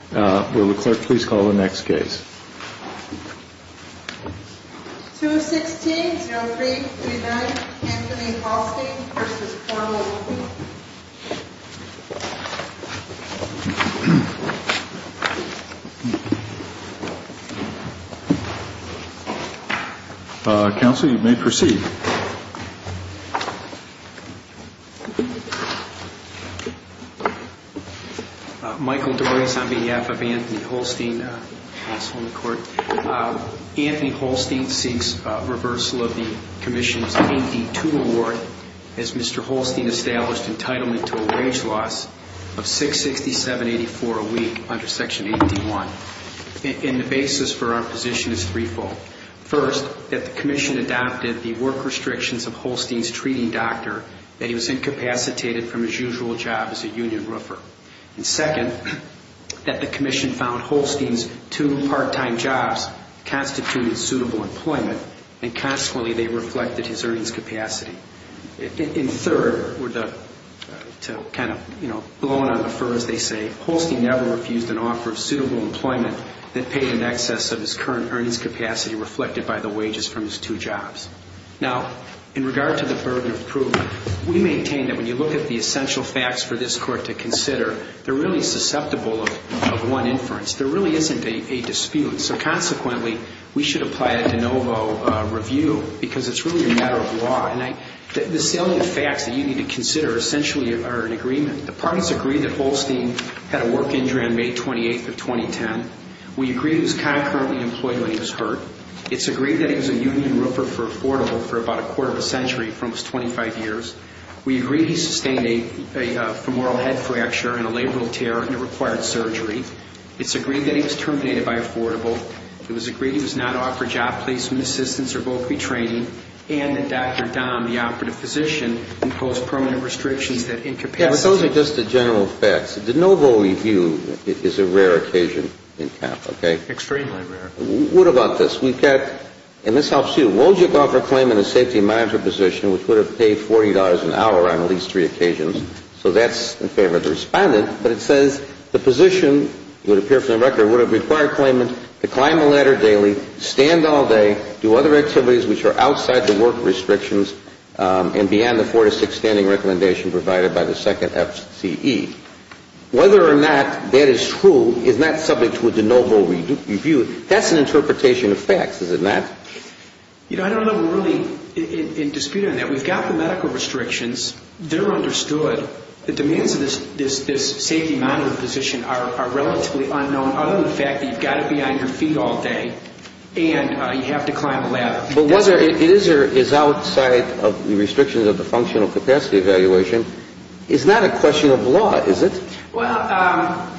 216-0339 Anthony Halstine v. Pornel Anthony Halstine seeks reversal of the Commission's AP2 award as Mr. Halstine has stated in his statement that the Commission has established entitlement to a wage loss of $667.84 a week under Section 81. And the basis for our position is threefold. First, that the Commission adopted the work restrictions of Halstine's treating doctor, that he was incapacitated from his usual job as a union roofer. And second, that the Commission found Halstine's two part-time jobs constituted suitable employment, and consequently they reflected his earnings capacity. And third, to kind of, you know, blow on the fur as they say, Halstine never refused an offer of suitable employment that paid in excess of his current earnings capacity reflected by the wages from his two jobs. Now, in regard to the burden of proof, we maintain that when you look at the essential facts for this Court to consider, they're really susceptible of one inference. There really isn't a dispute. So consequently, we It's really a matter of law. And the salient facts that you need to consider essentially are in agreement. The parties agree that Halstine had a work injury on May 28th of 2010. We agree he was concurrently employed when he was hurt. It's agreed that he was a union roofer for Affordable for about a quarter of a century, for almost 25 years. We agree he sustained a femoral head fracture and a labral tear and it required surgery. It's agreed that he was terminated by Affordable. It was agreed he was not offered job placement and assistance or vocation training and that Dr. Dahm, the operative physician, imposed permanent restrictions that incapacity Yeah, but those are just the general facts. The de novo review is a rare occasion in counts, okay? Extremely rare. What about this? We've got, and this helps you, Wojcik offered a claim in a safety and monitor position which would have paid $40 an hour on at least three occasions. So that's in favor of the Respondent. But it says the position, it would appear from the record, would have required claimant to climb a ladder daily, stand all day, do other activities which are outside the work restrictions and be on the four to six standing recommendation provided by the second F.C.E. Whether or not that is true is not subject to a de novo review. That's an interpretation of facts, is it not? You know, I don't have a ruling in dispute on that. We've got the medical restrictions. They're understood. The demands of this safety and monitor position are relatively unknown other than the fact that you've got to be on your feet all day and you have to climb a ladder. But whether it is or is outside of the restrictions of the functional capacity evaluation is not a question of law, is it? Well, I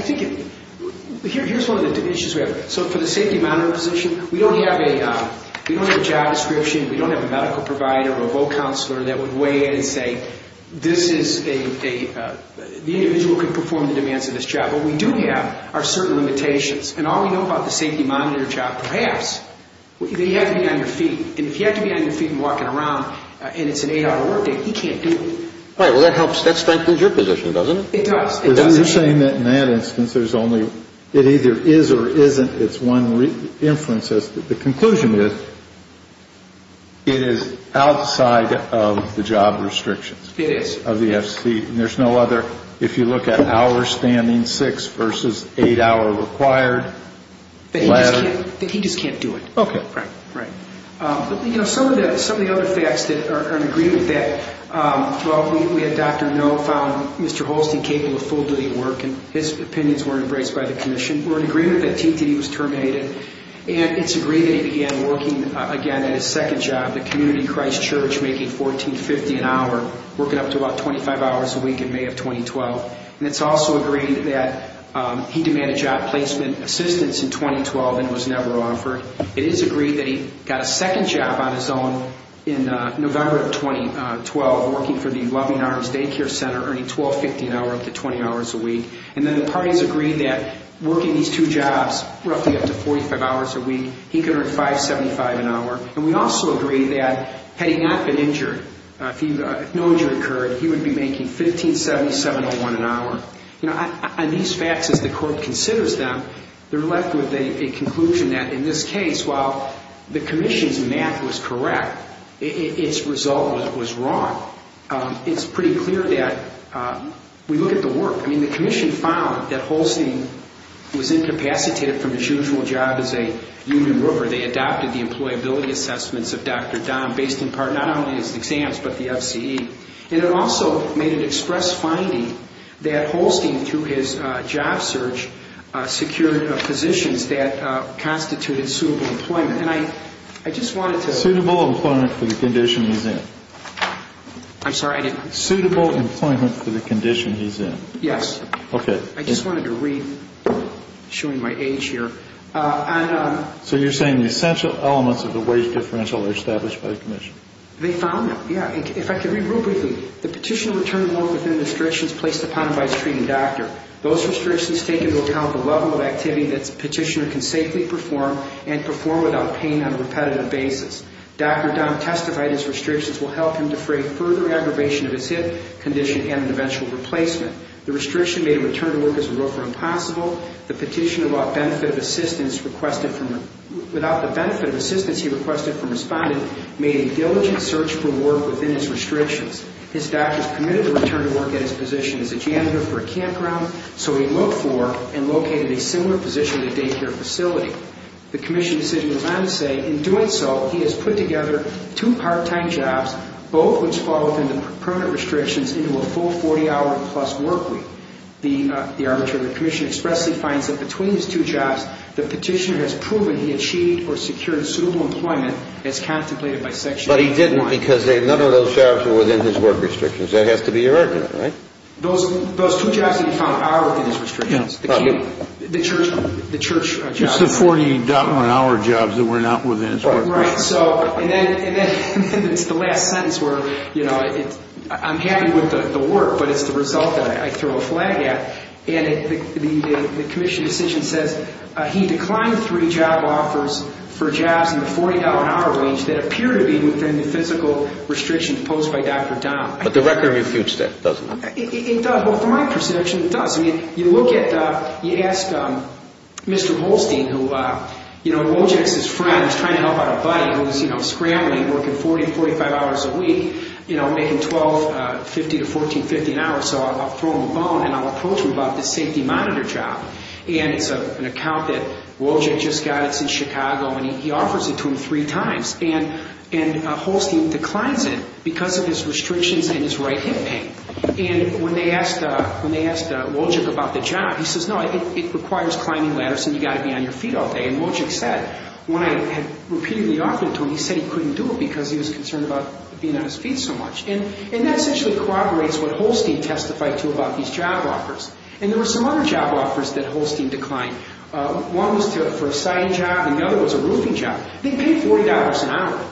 think, here's one of the issues we have. So for the safety and monitor position, we don't have a job description, we don't have a medical provider or a vocounselor that would weigh in and say, this is a, the individual can perform the demands of this job. What we do have are certain limitations. And all we know about the safety and monitor job, perhaps, that you have to be on your feet. And if you have to be on your feet and walking around and it's an eight-hour workday, he can't do it. Right, well, that helps, that strengthens your position, doesn't it? It does, it does. But then you're saying that in that instance, there's only, it either is or isn't, it's one inference as to, the conclusion is, it is outside of the job restrictions. It is. Of the FC. And there's no other, if you look at hours standing, six versus eight-hour required ladder. That he just can't do it. Okay. Right. Right. But, you know, some of the other facts that are in agreement that, well, we had Dr. No found Mr. Holstein capable of full-duty work, and his opinions were embraced by the Commission. We're in agreement that T.T. was terminated, and it's agreed that he began working again at his second job, the Community Christ Church, making $14.50 an hour, working up to about 25 hours a week in May of 2012. And it's also agreed that he demanded job placement assistance in 2012 and it was never offered. It is agreed that he got a second job on his own in November of 2012, working for the Loving Arms Day Care Center, earning $12.50 an hour, up to 20 hours a week. And then the parties agreed that working these two jobs, roughly up to 45 hours a week, he could earn $5.75 an hour. And we also agreed that, had he not been injured, if no injury occurred, he would be making $15.70, $7.01 an hour. You know, on these facts, as the Court considers them, they're left with a conclusion that, in this case, while the Commission's math was correct, its result was wrong. It's pretty clear that, we look at the work. I mean, the Commission found that Holstein was incapacitated from his usual job as a union worker. They adopted the employability assessments of Dr. Dahm, based in part, not only his exams, but the FCE. And it also made an express finding that Holstein, through his job search, secured positions that constituted suitable employment. And I just wanted to... Suitable employment for the condition he's in. I'm sorry, I didn't... Suitable employment for the condition he's in. Yes. Okay. I just wanted to read, showing my age here. So you're saying the essential elements of the wage differential are established by the Commission? They found them. Yeah. If I could read real briefly. The petitioner returned work within the restrictions placed upon him by his treating doctor. Those restrictions take into account the level of activity that the petitioner can safely perform, and perform without pain on a repetitive basis. Dr. Dahm testified his restrictions will help him defray further aggravation of his hip condition and an eventual replacement. The restriction made a return to work as a roofer impossible. The petitioner, without the benefit of assistance he requested from his finding, made a diligent search for work within his restrictions. His doctors permitted the return to work at his position as a janitor for a campground, so he looked for and located a similar position at a daycare facility. The Commission decision was not to say, in doing so, he has put together two part-time jobs, both which fall within the permanent restrictions, into a full 40-hour-plus work week. The arbitrator of the Commission expressly finds that between these two jobs, the petitioner has proven he achieved or secured suitable employment as contemplated by Section 81. But he didn't because none of those jobs were within his work restrictions. That has to be irregular, right? Those two jobs that he found are within his restrictions. The church jobs. Just the 40-hour jobs that were not within his work restrictions. Right, so, and then it's the last sentence where, you know, I'm happy with the work, but it's the result that I throw a flag at. And the Commission decision says he declined three job offers for jobs in the 40-hour wage that appear to be within the physical restrictions imposed by Dr. Dahn. But the record refutes that, doesn't it? It does. Well, from my perception, it does. I mean, you look at, you ask Mr. Holstein, who, you know, Wojcik's his friend. He's trying to help out a buddy who's, you know, scrambling, working 40, 45 hours a week, you know, making $12.50 to $14.50 an hour. So I'll throw him a bone and I'll approach him about this safety monitor job. And it's an account that Wojcik just got. It's in Chicago. And he offers it to him three times. And Holstein declines it because of his restrictions and his right hip pain. And when they asked Wojcik about the job, he says, no, it requires climbing ladders and you've got to be on your feet all day. And Wojcik said, when I had repeatedly offered it to him, he said he couldn't do it because he was concerned about being on his feet so much. And that essentially corroborates what Holstein testified to about these job offers. And there were some other job offers that Holstein declined. One was for a side job and the other was a roofing job. They paid $40 an hour.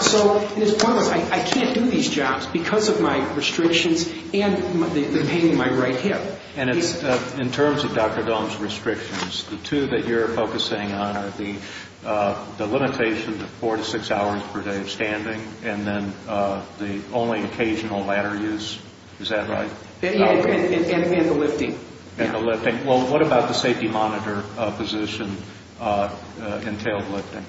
So it's one of those, I can't do these jobs because of my restrictions and the pain in my right hip. And in terms of Dr. Dohm's restrictions, the two that you're focusing on are the limitation of four to six hours per day of standing and then the only occasional ladder use. Is that right? And the lifting. And the lifting. Well, what about the safety monitor position entailed lifting?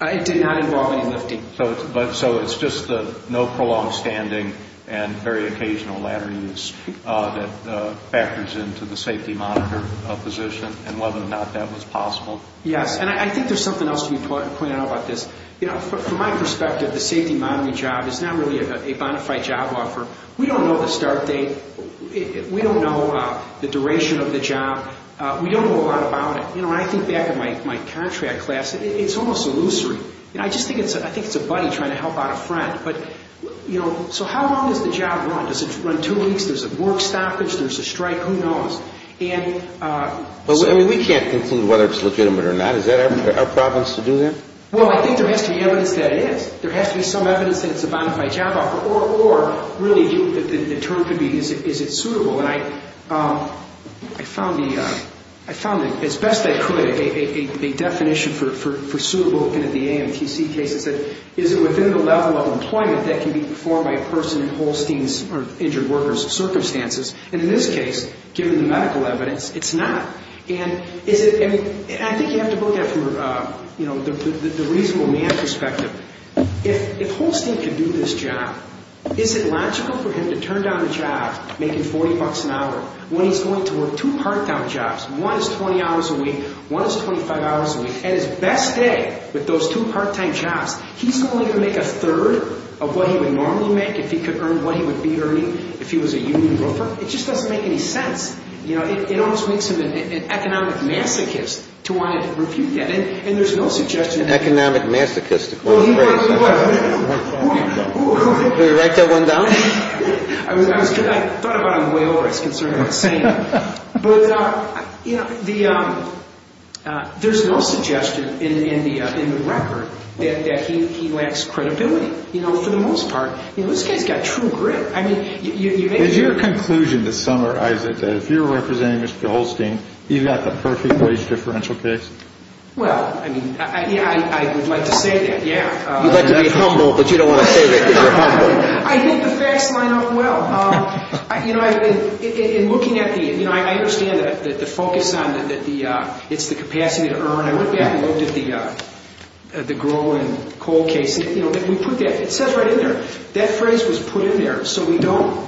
It did not involve any lifting. So it's just the no prolonged standing and very occasional ladder use that factors into the safety monitor position and whether or not that was possible. Yes, and I think there's something else to be pointed out about this. From my perspective, the safety monitoring job is not really a bona fide job offer. We don't know the start date. We don't know the duration of the job. We don't know a lot about it. I think back in my contract class, it's almost illusory. I think it's a buddy trying to help out a friend. So how long does the job run? Does it run two weeks? There's a work stoppage? There's a strike? Who knows? We can't conclude whether it's legitimate or not. Is that our province to do that? Well, I think there has to be evidence that it is. There has to be some evidence that it's a bona fide job offer. Or really the term could be, is it suitable? And I found, as best I could, a definition for suitable in the AMTC cases. Is it within the level of employment that can be performed by a person in Holstein's or injured workers circumstances? And in this case, given the medical evidence, it's not. And I think you have to look at it from the reasonable man perspective. If Holstein could do this job, is it logical for him to turn down a job making $40 an hour, when he's going to work two part-time jobs. One is 20 hours a week, one is 25 hours a week. And his best day with those two part-time jobs, he's only going to make a third of what he would normally make if he could earn what he would be earning if he was a union broker. It just doesn't make any sense. It almost makes him an economic masochist to want to refute that. And there's no suggestion... An economic masochist, according to your phrase. Well, he was... Did he write that one down? I thought about it on the way over. I was concerned about saying it. There's no suggestion in the record that he lacks credibility, for the most part. This guy's got true grit. Is your conclusion this summer, Isaac, that if you're representing Mr. Holstein, you've got the perfect wage differential case? Well, I mean, I would like to say that, yeah. You'd like to be humble, but you don't want to say that because you're humble. I think the facts line up well. You know, in looking at the... You know, I understand that the focus on the... It's the capacity to earn. I went back and looked at the grow and coal case. You know, we put that... It says right in there. That phrase was put in there, so we don't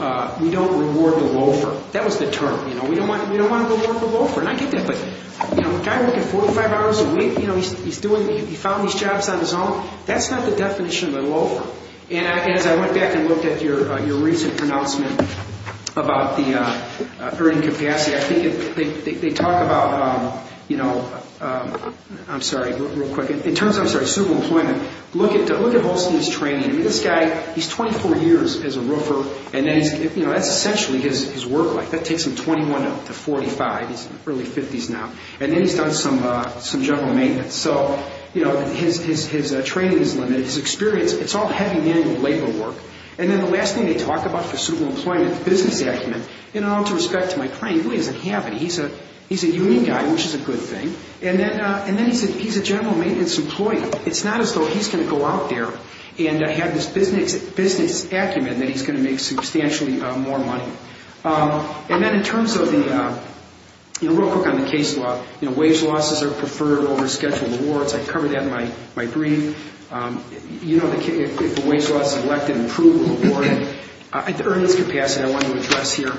reward the loafer. That was the term. You know, we don't want to reward the loafer. And I get that, but, you know, a guy working 45 hours a week, you know, he's doing... He found these jobs on his own. That's not the definition of a loafer. And as I went back and looked at your recent pronouncement about the earning capacity, I think they talk about, you know... I'm sorry, real quick. In terms of, I'm sorry, super employment, look at Holstein's training. I mean, this guy, he's 24 years as a roofer. And then he's... You know, that's essentially his work life. That takes him 21 to 45. He's in the early 50s now. And then he's done some general maintenance. So, you know, his training is limited. His experience, it's all heavy manual labor work. And then the last thing they talk about for super employment is business acumen. And all due respect to my friend, he really doesn't have it. He's a union guy, which is a good thing. And then he's a general maintenance employee. It's not as though he's going to go out there and have this business acumen that he's going to make substantially more money. And then in terms of the... You know, real quick on the case law. You know, wage losses are preferred over scheduled awards. I covered that in my brief. You know, if a wage loss is elected, approved or awarded. The earnings capacity I want to address here.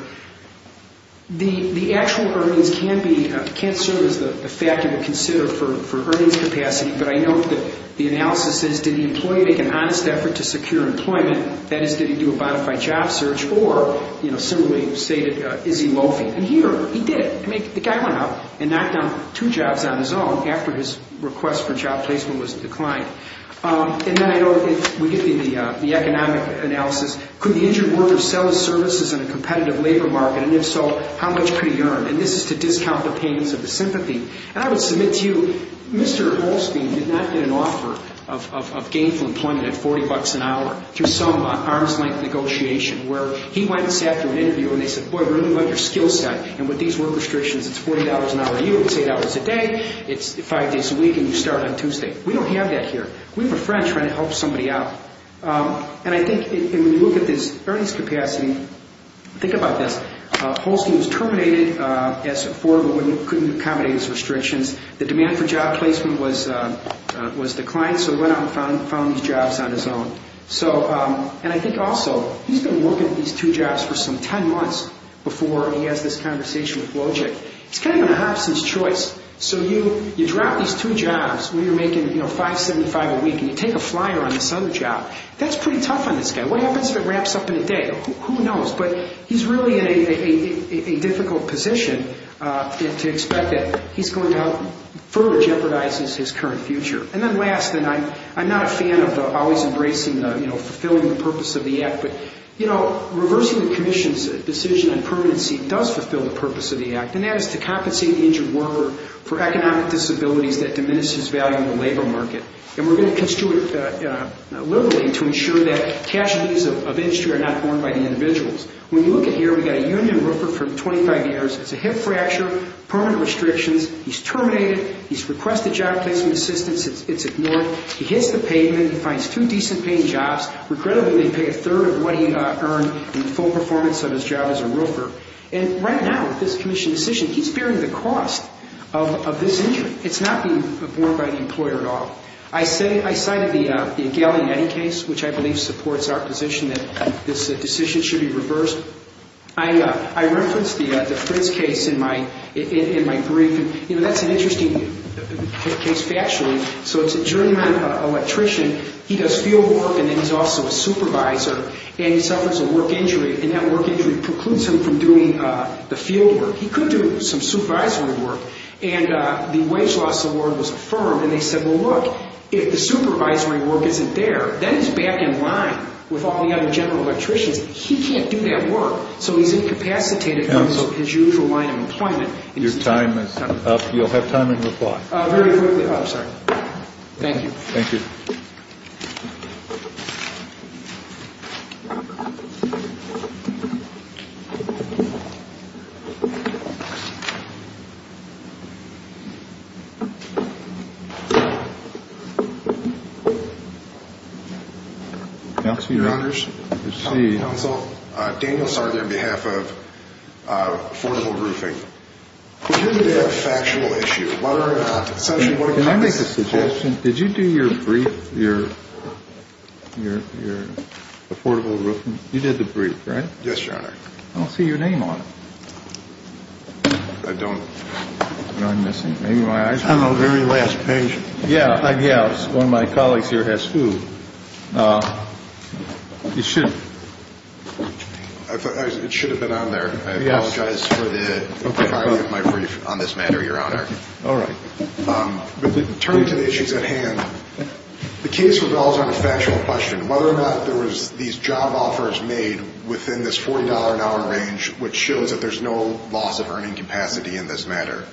The actual earnings can't serve as the factor to consider for earnings capacity. But I know that the analysis is, did the employee make an honest effort to secure employment? That is, did he do a bona fide job search? Or, you know, similarly stated, is he loafing? And here, he did. I mean, the guy went out and knocked down two jobs on his own after his request for job placement was declined. And then I know, if we get into the economic analysis, could the injured worker sell his services in a competitive labor market? And if so, how much could he earn? And this is to discount the payments of the sympathy. And I would submit to you, Mr. Holstein did not get an offer of gainful employment at $40 an hour through some arms-length negotiation, where he went and sat through an interview and they said, boy, we really love your skill set. And with these work restrictions, it's $40 an hour a year, it's $8 a day. It's five days a week and you start on Tuesday. We don't have that here. We have a friend trying to help somebody out. And I think when you look at this earnings capacity, think about this. Holstein was terminated as a foreman when he couldn't accommodate his restrictions. The demand for job placement was declined, so he went out and found these jobs on his own. So, and I think also, he's been working these two jobs for some 10 months before he has this conversation with Wojcik. It's kind of an absence choice. So you drop these two jobs when you're making $5.75 a week and you take a flyer on this other job. That's pretty tough on this guy. What happens if it ramps up in a day? Who knows? But he's really in a difficult position to expect that he's going to further jeopardize his current future. And then last, and I'm not a fan of always embracing the, you know, fulfilling the purpose of the act, but, you know, reversing the commission's decision on permanency does fulfill the purpose of the act, and that is to compensate the injured worker for economic disabilities that diminish his value in the labor market. And we're going to construe it liberally to ensure that casualties of industry are not borne by the individuals. When you look at here, we've got a union roofer for 25 years. It's a hip fracture, permanent restrictions. He's terminated. He's requested job placement assistance. It's ignored. He hits the pavement. He finds two decent-paying jobs. Regrettably, they pay a third of what he earned in full performance of his job as a roofer. And right now, with this commission's decision, he's bearing the cost of this injury. It's not being borne by the employer at all. I cited the Gali Netty case, which I believe supports our position that this decision should be reversed. I referenced the Prince case in my brief, and, you know, that's an interesting case factually. So it's a German electrician. He does field work, and then he's also a supervisor, and he suffers a work injury, and that work injury precludes him from doing the field work. He could do some supervisory work. And the wage loss award was affirmed, and they said, well, look, if the supervisory work isn't there, then he's back in line with all the other general electricians. He can't do that work, so he's incapacitated from his usual line of employment. Your time is up. You'll have time in reply. Very quickly. I'm sorry. Thank you. Thank you. Counsel, your honors. Counsel, Daniel Sardar on behalf of Affordable Roofing. We hear you have a factual issue. What are essentially what it comes to? Can I make a suggestion? Did you do your brief, your Affordable Roofing? You did the brief, right? Yes, your honor. I don't see your name on it. I don't. Am I missing? Maybe my eyes are moving. I'm on the very last page. Yeah, I guess. One of my colleagues here has food. You should. It should have been on there. I apologize for the priority of my brief on this matter, your honor. All right. Turn to the issues at hand. The case revolves on a factual question. Whether or not there was these job offers made within this $40 an hour range, which shows that there's no loss of earning capacity in this matter.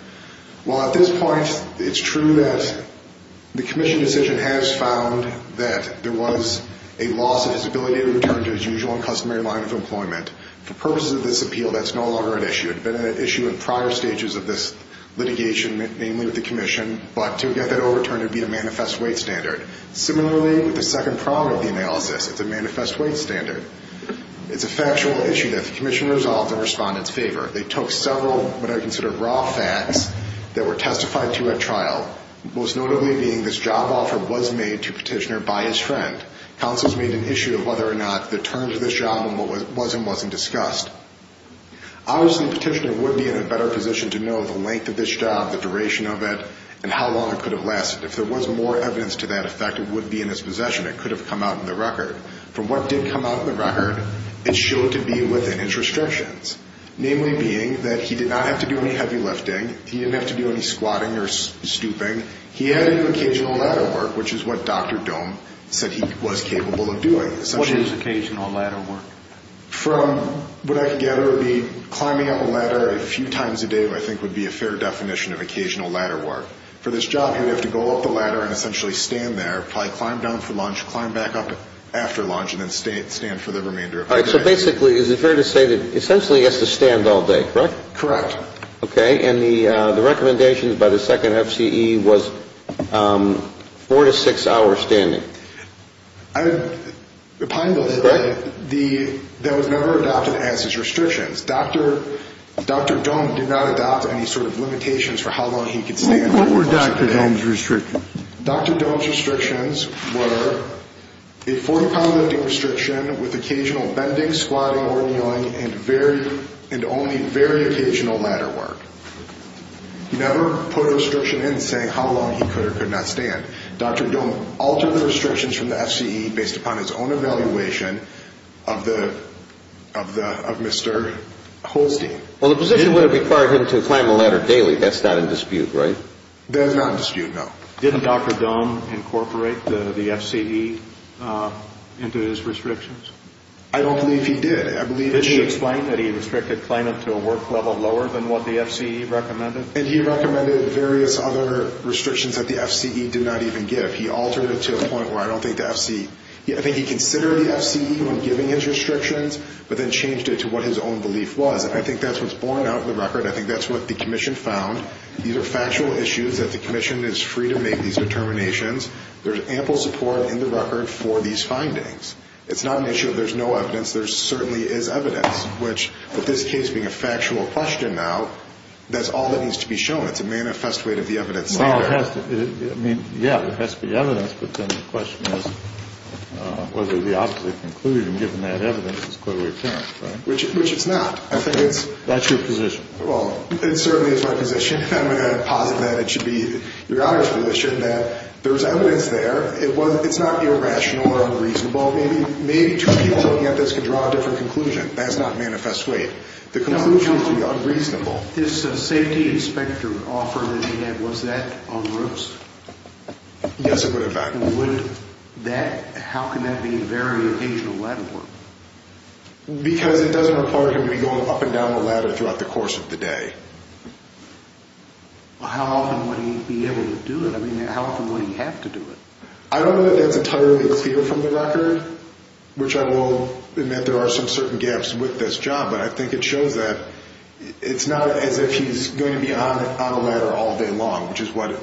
Well, at this point, it's true that the commission decision has found that there was a loss of disability in return to his usual and customary line of employment. For purposes of this appeal, that's no longer an issue. It had been an issue in prior stages of this litigation, mainly with the commission. But to get that overturned, it would be a manifest wage standard. Similarly, with the second prong of the analysis, it's a manifest wage standard. It's a factual issue that the commission resolved in respondent's favor. They took several what I consider raw facts that were testified to at trial, most notably being this job offer was made to Petitioner by his friend. Counsels made an issue of whether or not the terms of this job and what was and wasn't discussed. Obviously, Petitioner would be in a better position to know the length of this job, the duration of it, and how long it could have lasted. If there was more evidence to that effect, it would be in his possession. It could have come out in the record. From what did come out in the record, it showed to be within his restrictions, namely being that he did not have to do any heavy lifting. He didn't have to do any squatting or stooping. He had to do occasional ladder work, which is what Dr. Dohm said he was capable of doing. What is occasional ladder work? From what I can gather, it would be climbing up a ladder a few times a day, which I think would be a fair definition of occasional ladder work. For this job, he would have to go up the ladder and essentially stand there, probably climb down for lunch, climb back up after lunch, and then stand for the remainder of the day. All right. So basically, is it fair to say that essentially he has to stand all day, correct? Correct. Okay. And the recommendations by the second FCE was four to six hours standing. The Pineville said that was never adopted as his restrictions. Dr. Dohm did not adopt any sort of limitations for how long he could stand. What were Dr. Dohm's restrictions? Dr. Dohm's restrictions were a 40-pound lifting restriction with occasional bending, squatting, or kneeling, and only very occasional ladder work. He never put a restriction in saying how long he could or could not stand. Dr. Dohm altered the restrictions from the FCE based upon his own evaluation of Mr. Holstein. Well, the position would have required him to climb a ladder daily. That's not in dispute, right? That is not in dispute, no. Didn't Dr. Dohm incorporate the FCE into his restrictions? I don't believe he did. Did she explain that he restricted climbing to a work level lower than what the FCE recommended? And he recommended various other restrictions that the FCE did not even give. He altered it to a point where I don't think the FCE—I think he considered the FCE when giving his restrictions, but then changed it to what his own belief was. I think that's what's borne out of the record. I think that's what the commission found. These are factual issues that the commission is free to make these determinations. There's ample support in the record for these findings. It's not an issue of there's no evidence. There certainly is evidence, which, with this case being a factual question now, that's all that needs to be shown. It's a manifest weight of the evidence. Well, it has to—I mean, yeah, there has to be evidence, but then the question is whether the opposite conclusion, given that evidence, is clearly apparent, right? Which it's not. I think it's— That's your position. Well, it certainly is my position, and I'm going to posit that it should be your Honor's position, that there's evidence there. It's not irrational or unreasonable. Maybe two people looking at this could draw a different conclusion. That's not manifest weight. The conclusion is to be unreasonable. This safety inspector offer that he had, was that on ropes? Yes, it would have been. Would that—how can that be a very occasional ladder work? Because it doesn't require him to be going up and down the ladder throughout the course of the day. How often would he be able to do it? I mean, how often would he have to do it? I don't know that that's entirely clear from the record, which I will admit there are some certain gaps with this job, but I think it shows that it's not as if he's going to be on a ladder all day long, which is what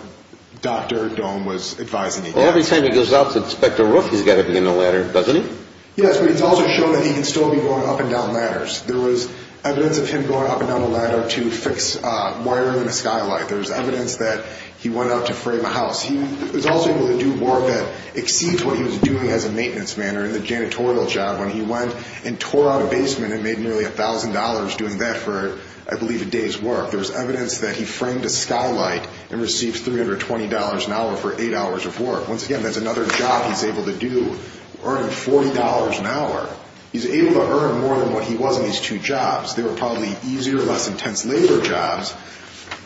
Dr. Dohm was advising against. Every time he goes out to inspect a roof, he's got to be on a ladder, doesn't he? Yes, but it's also shown that he can still be going up and down ladders. There was evidence of him going up and down a ladder to fix wiring in a skylight. There's evidence that he went out to frame a house. He was also able to do work that exceeds what he was doing as a maintenance man or in the janitorial job when he went and tore out a basement and made nearly $1,000 doing that for, I believe, a day's work. There was evidence that he framed a skylight and received $320 an hour for eight hours of work. Once again, that's another job he's able to do, earning $40 an hour. He's able to earn more than what he was in these two jobs. They were probably easier, less intense labor jobs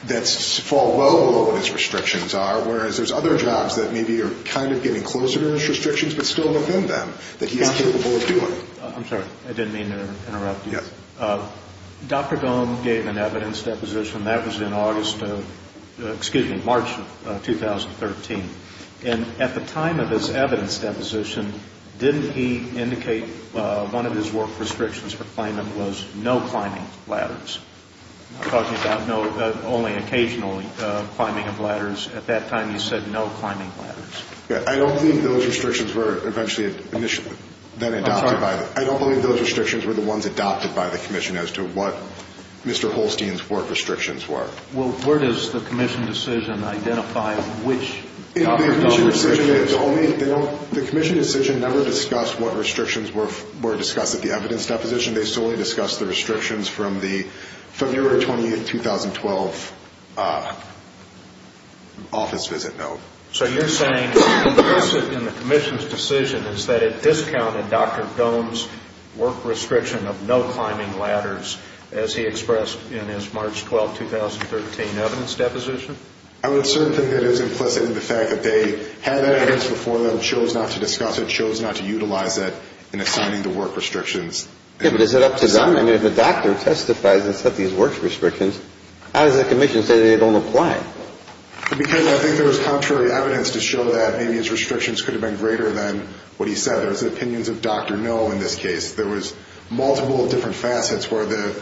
that fall well below what his restrictions are, whereas there's other jobs that maybe are kind of getting closer to his restrictions but still within them that he's capable of doing. I'm sorry. I didn't mean to interrupt you. Yeah. Dr. Gohm gave an evidence deposition. That was in August of – excuse me, March of 2013. And at the time of his evidence deposition, didn't he indicate one of his work restrictions for claimant was no climbing ladders? I'm talking about only occasional climbing of ladders. At that time he said no climbing ladders. I don't believe those restrictions were eventually then adopted by the – I'm sorry. I don't believe those restrictions were the ones adopted by the commission as to what Mr. Holstein's work restrictions were. Well, where does the commission decision identify which – The commission decision is only – the commission decision never discussed what restrictions were discussed at the evidence deposition. They solely discussed the restrictions from the February 28, 2012 office visit note. So you're saying what's implicit in the commission's decision is that it discounted Dr. Gohm's work restriction of no climbing ladders as he expressed in his March 12, 2013 evidence deposition? I would assert that it is implicit in the fact that they had that evidence before them, chose not to discuss it, chose not to utilize it in assigning the work restrictions. Yeah, but is it up to them? I mean, if a doctor testifies and set these work restrictions, how does the commission say that they don't apply? Because I think there was contrary evidence to show that maybe his restrictions could have been greater than what he said. There was opinions of Dr. No in this case. There was multiple different facets where the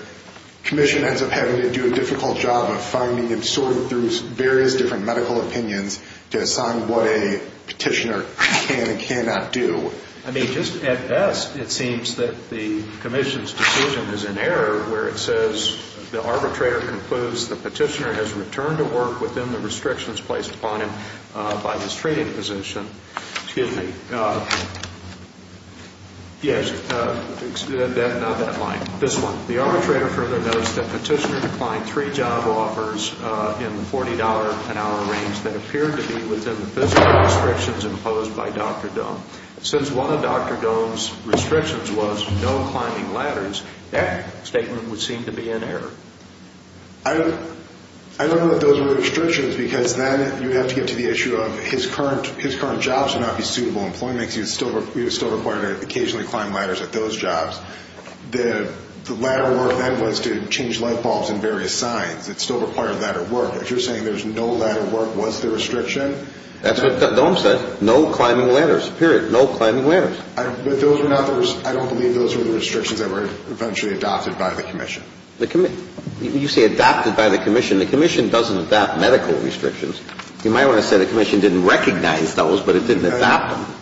commission ends up having to do a difficult job of finding and sorting through various different medical opinions to assign what a petitioner can and cannot do. I mean, just at best, it seems that the commission's decision is in error where it says the arbitrator concludes the petitioner has returned to work within the restrictions placed upon him by his treating physician. Excuse me. Yes. Not that line. This one. The arbitrator further notes that the petitioner declined three job offers in the $40 an hour range that appeared to be within the physical restrictions imposed by Dr. Gohm. Since one of Dr. Gohm's restrictions was no climbing ladders, that statement would seem to be in error. I don't know that those were restrictions because then you have to get to the issue of his current jobs would not be suitable employment because he was still required to occasionally climb ladders at those jobs. The ladder work then was to change light bulbs in various signs. It still required ladder work. If you're saying there's no ladder work, was there restriction? That's what Gohm said. No climbing ladders. Period. No climbing ladders. But those were not the restrictions. I don't believe those were the restrictions that were eventually adopted by the commission. You say adopted by the commission. The commission doesn't adopt medical restrictions. You might want to say the commission didn't recognize those, but it didn't adopt them.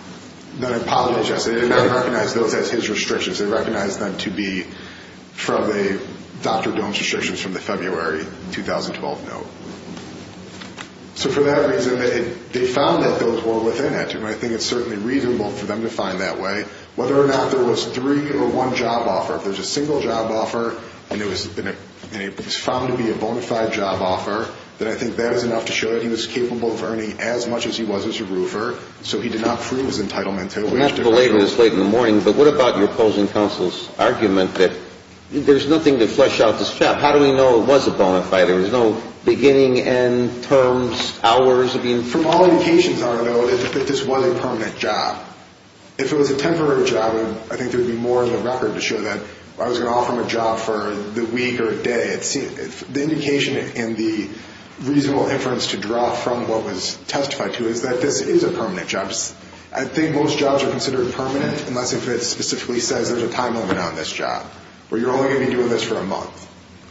Then I apologize. They did not recognize those as his restrictions. They recognized them to be from Dr. Gohm's restrictions from the February 2012 note. So for that reason, they found that those were within it, and I think it's certainly reasonable for them to find that way, whether or not there was three or one job offer. If there's a single job offer and it was found to be a bona fide job offer, then I think that is enough to show that he was capable of earning as much as he was as a roofer, so he did not prove his entitlement to it. The medical aid was late in the morning, but what about your opposing counsel's argument that there's nothing to flesh out this job? How do we know it was a bona fide? There was no beginning, end, terms, hours of information? From all indications, I would know that this was a permanent job. If it was a temporary job, I think there would be more in the record to show that I was going to offer him a job for the week or a day. The indication and the reasonable inference to draw from what was testified to is that this is a permanent job. I think most jobs are considered permanent, unless it specifically says there's a time limit on this job, where you're only going to be doing this for a month.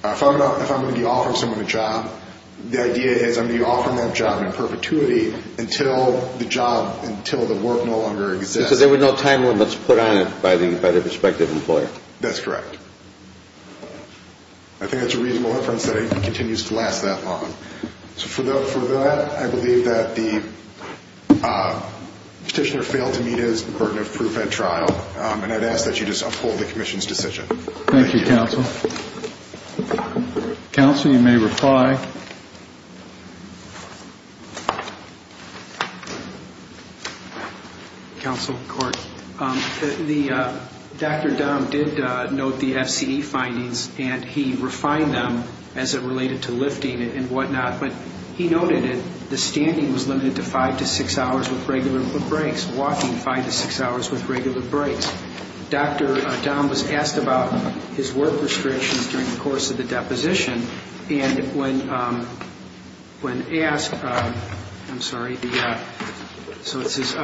If I'm going to be offering someone a job, the idea is I'm going to be offering that job in perpetuity until the job, until the work no longer exists. Because there were no time limits put on it by the prospective employer. That's correct. I think that's a reasonable inference that it continues to last that long. So for that, I believe that the petitioner failed to meet his burden of proof at trial, and I'd ask that you just uphold the commission's decision. Thank you, counsel. Counsel, you may reply. Counsel, court, Dr. Dahm did note the FCE findings, and he refined them as it related to lifting and whatnot. But he noted that the standing was limited to five to six hours with regular breaks, walking five to six hours with regular breaks. Dr. Dahm was asked about his work restrictions during the course of the deposition, and when asked, I'm sorry, so it says,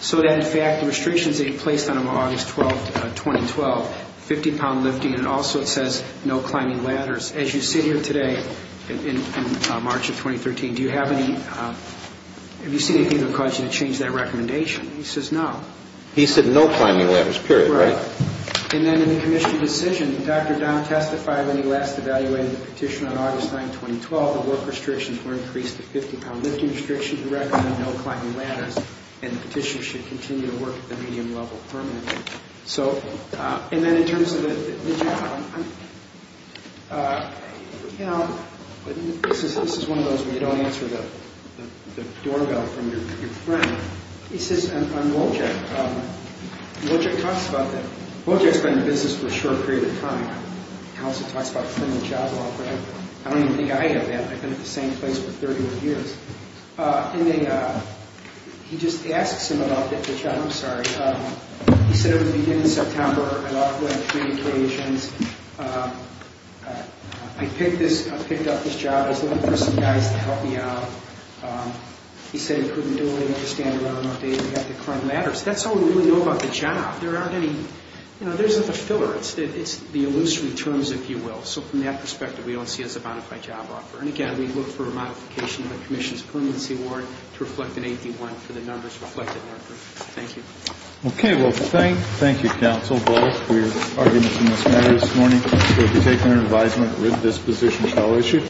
so that in fact the restrictions that he placed on him on August 12, 2012, 50-pound lifting, and also it says no climbing ladders. As you sit here today in March of 2013, do you have any, have you seen anything that caused you to change that recommendation? He says no. He said no climbing ladders, period, right? Right. And then in the commission's decision, Dr. Dahm testified when he last evaluated the petition on August 9, 2012, the work restrictions were increased to 50-pound lifting restrictions and recommended no climbing ladders, and the petitioner should continue to work at the medium level permanently. So, and then in terms of the, you know, this is one of those where you don't answer the doorbell from your friend. He says, I'm Wojcik. Wojcik talks about that. Wojcik's been in business for a short period of time. He also talks about a criminal job law grant. I don't even think I have that. I've been at the same place for 31 years. And they, he just asks him about the job, I'm sorry. He said it was the beginning of September, I thought I'd go on three occasions. I picked this, I picked up this job. I was looking for some guys to help me out. He said he couldn't do it. He had to stand around and update me on the crime matters. That's all we really know about the job. There aren't any, you know, there isn't a filler. It's the illusory terms, if you will. So from that perspective, we don't see it as a bona fide job offer. And, again, we look for a modification of the commission's plenancy award to reflect an 81 for the numbers reflected in our group. Thank you. Okay. Well, thank you, counsel, both, for your arguments in this matter this morning. We'll be taking your advisement with this position shall issue.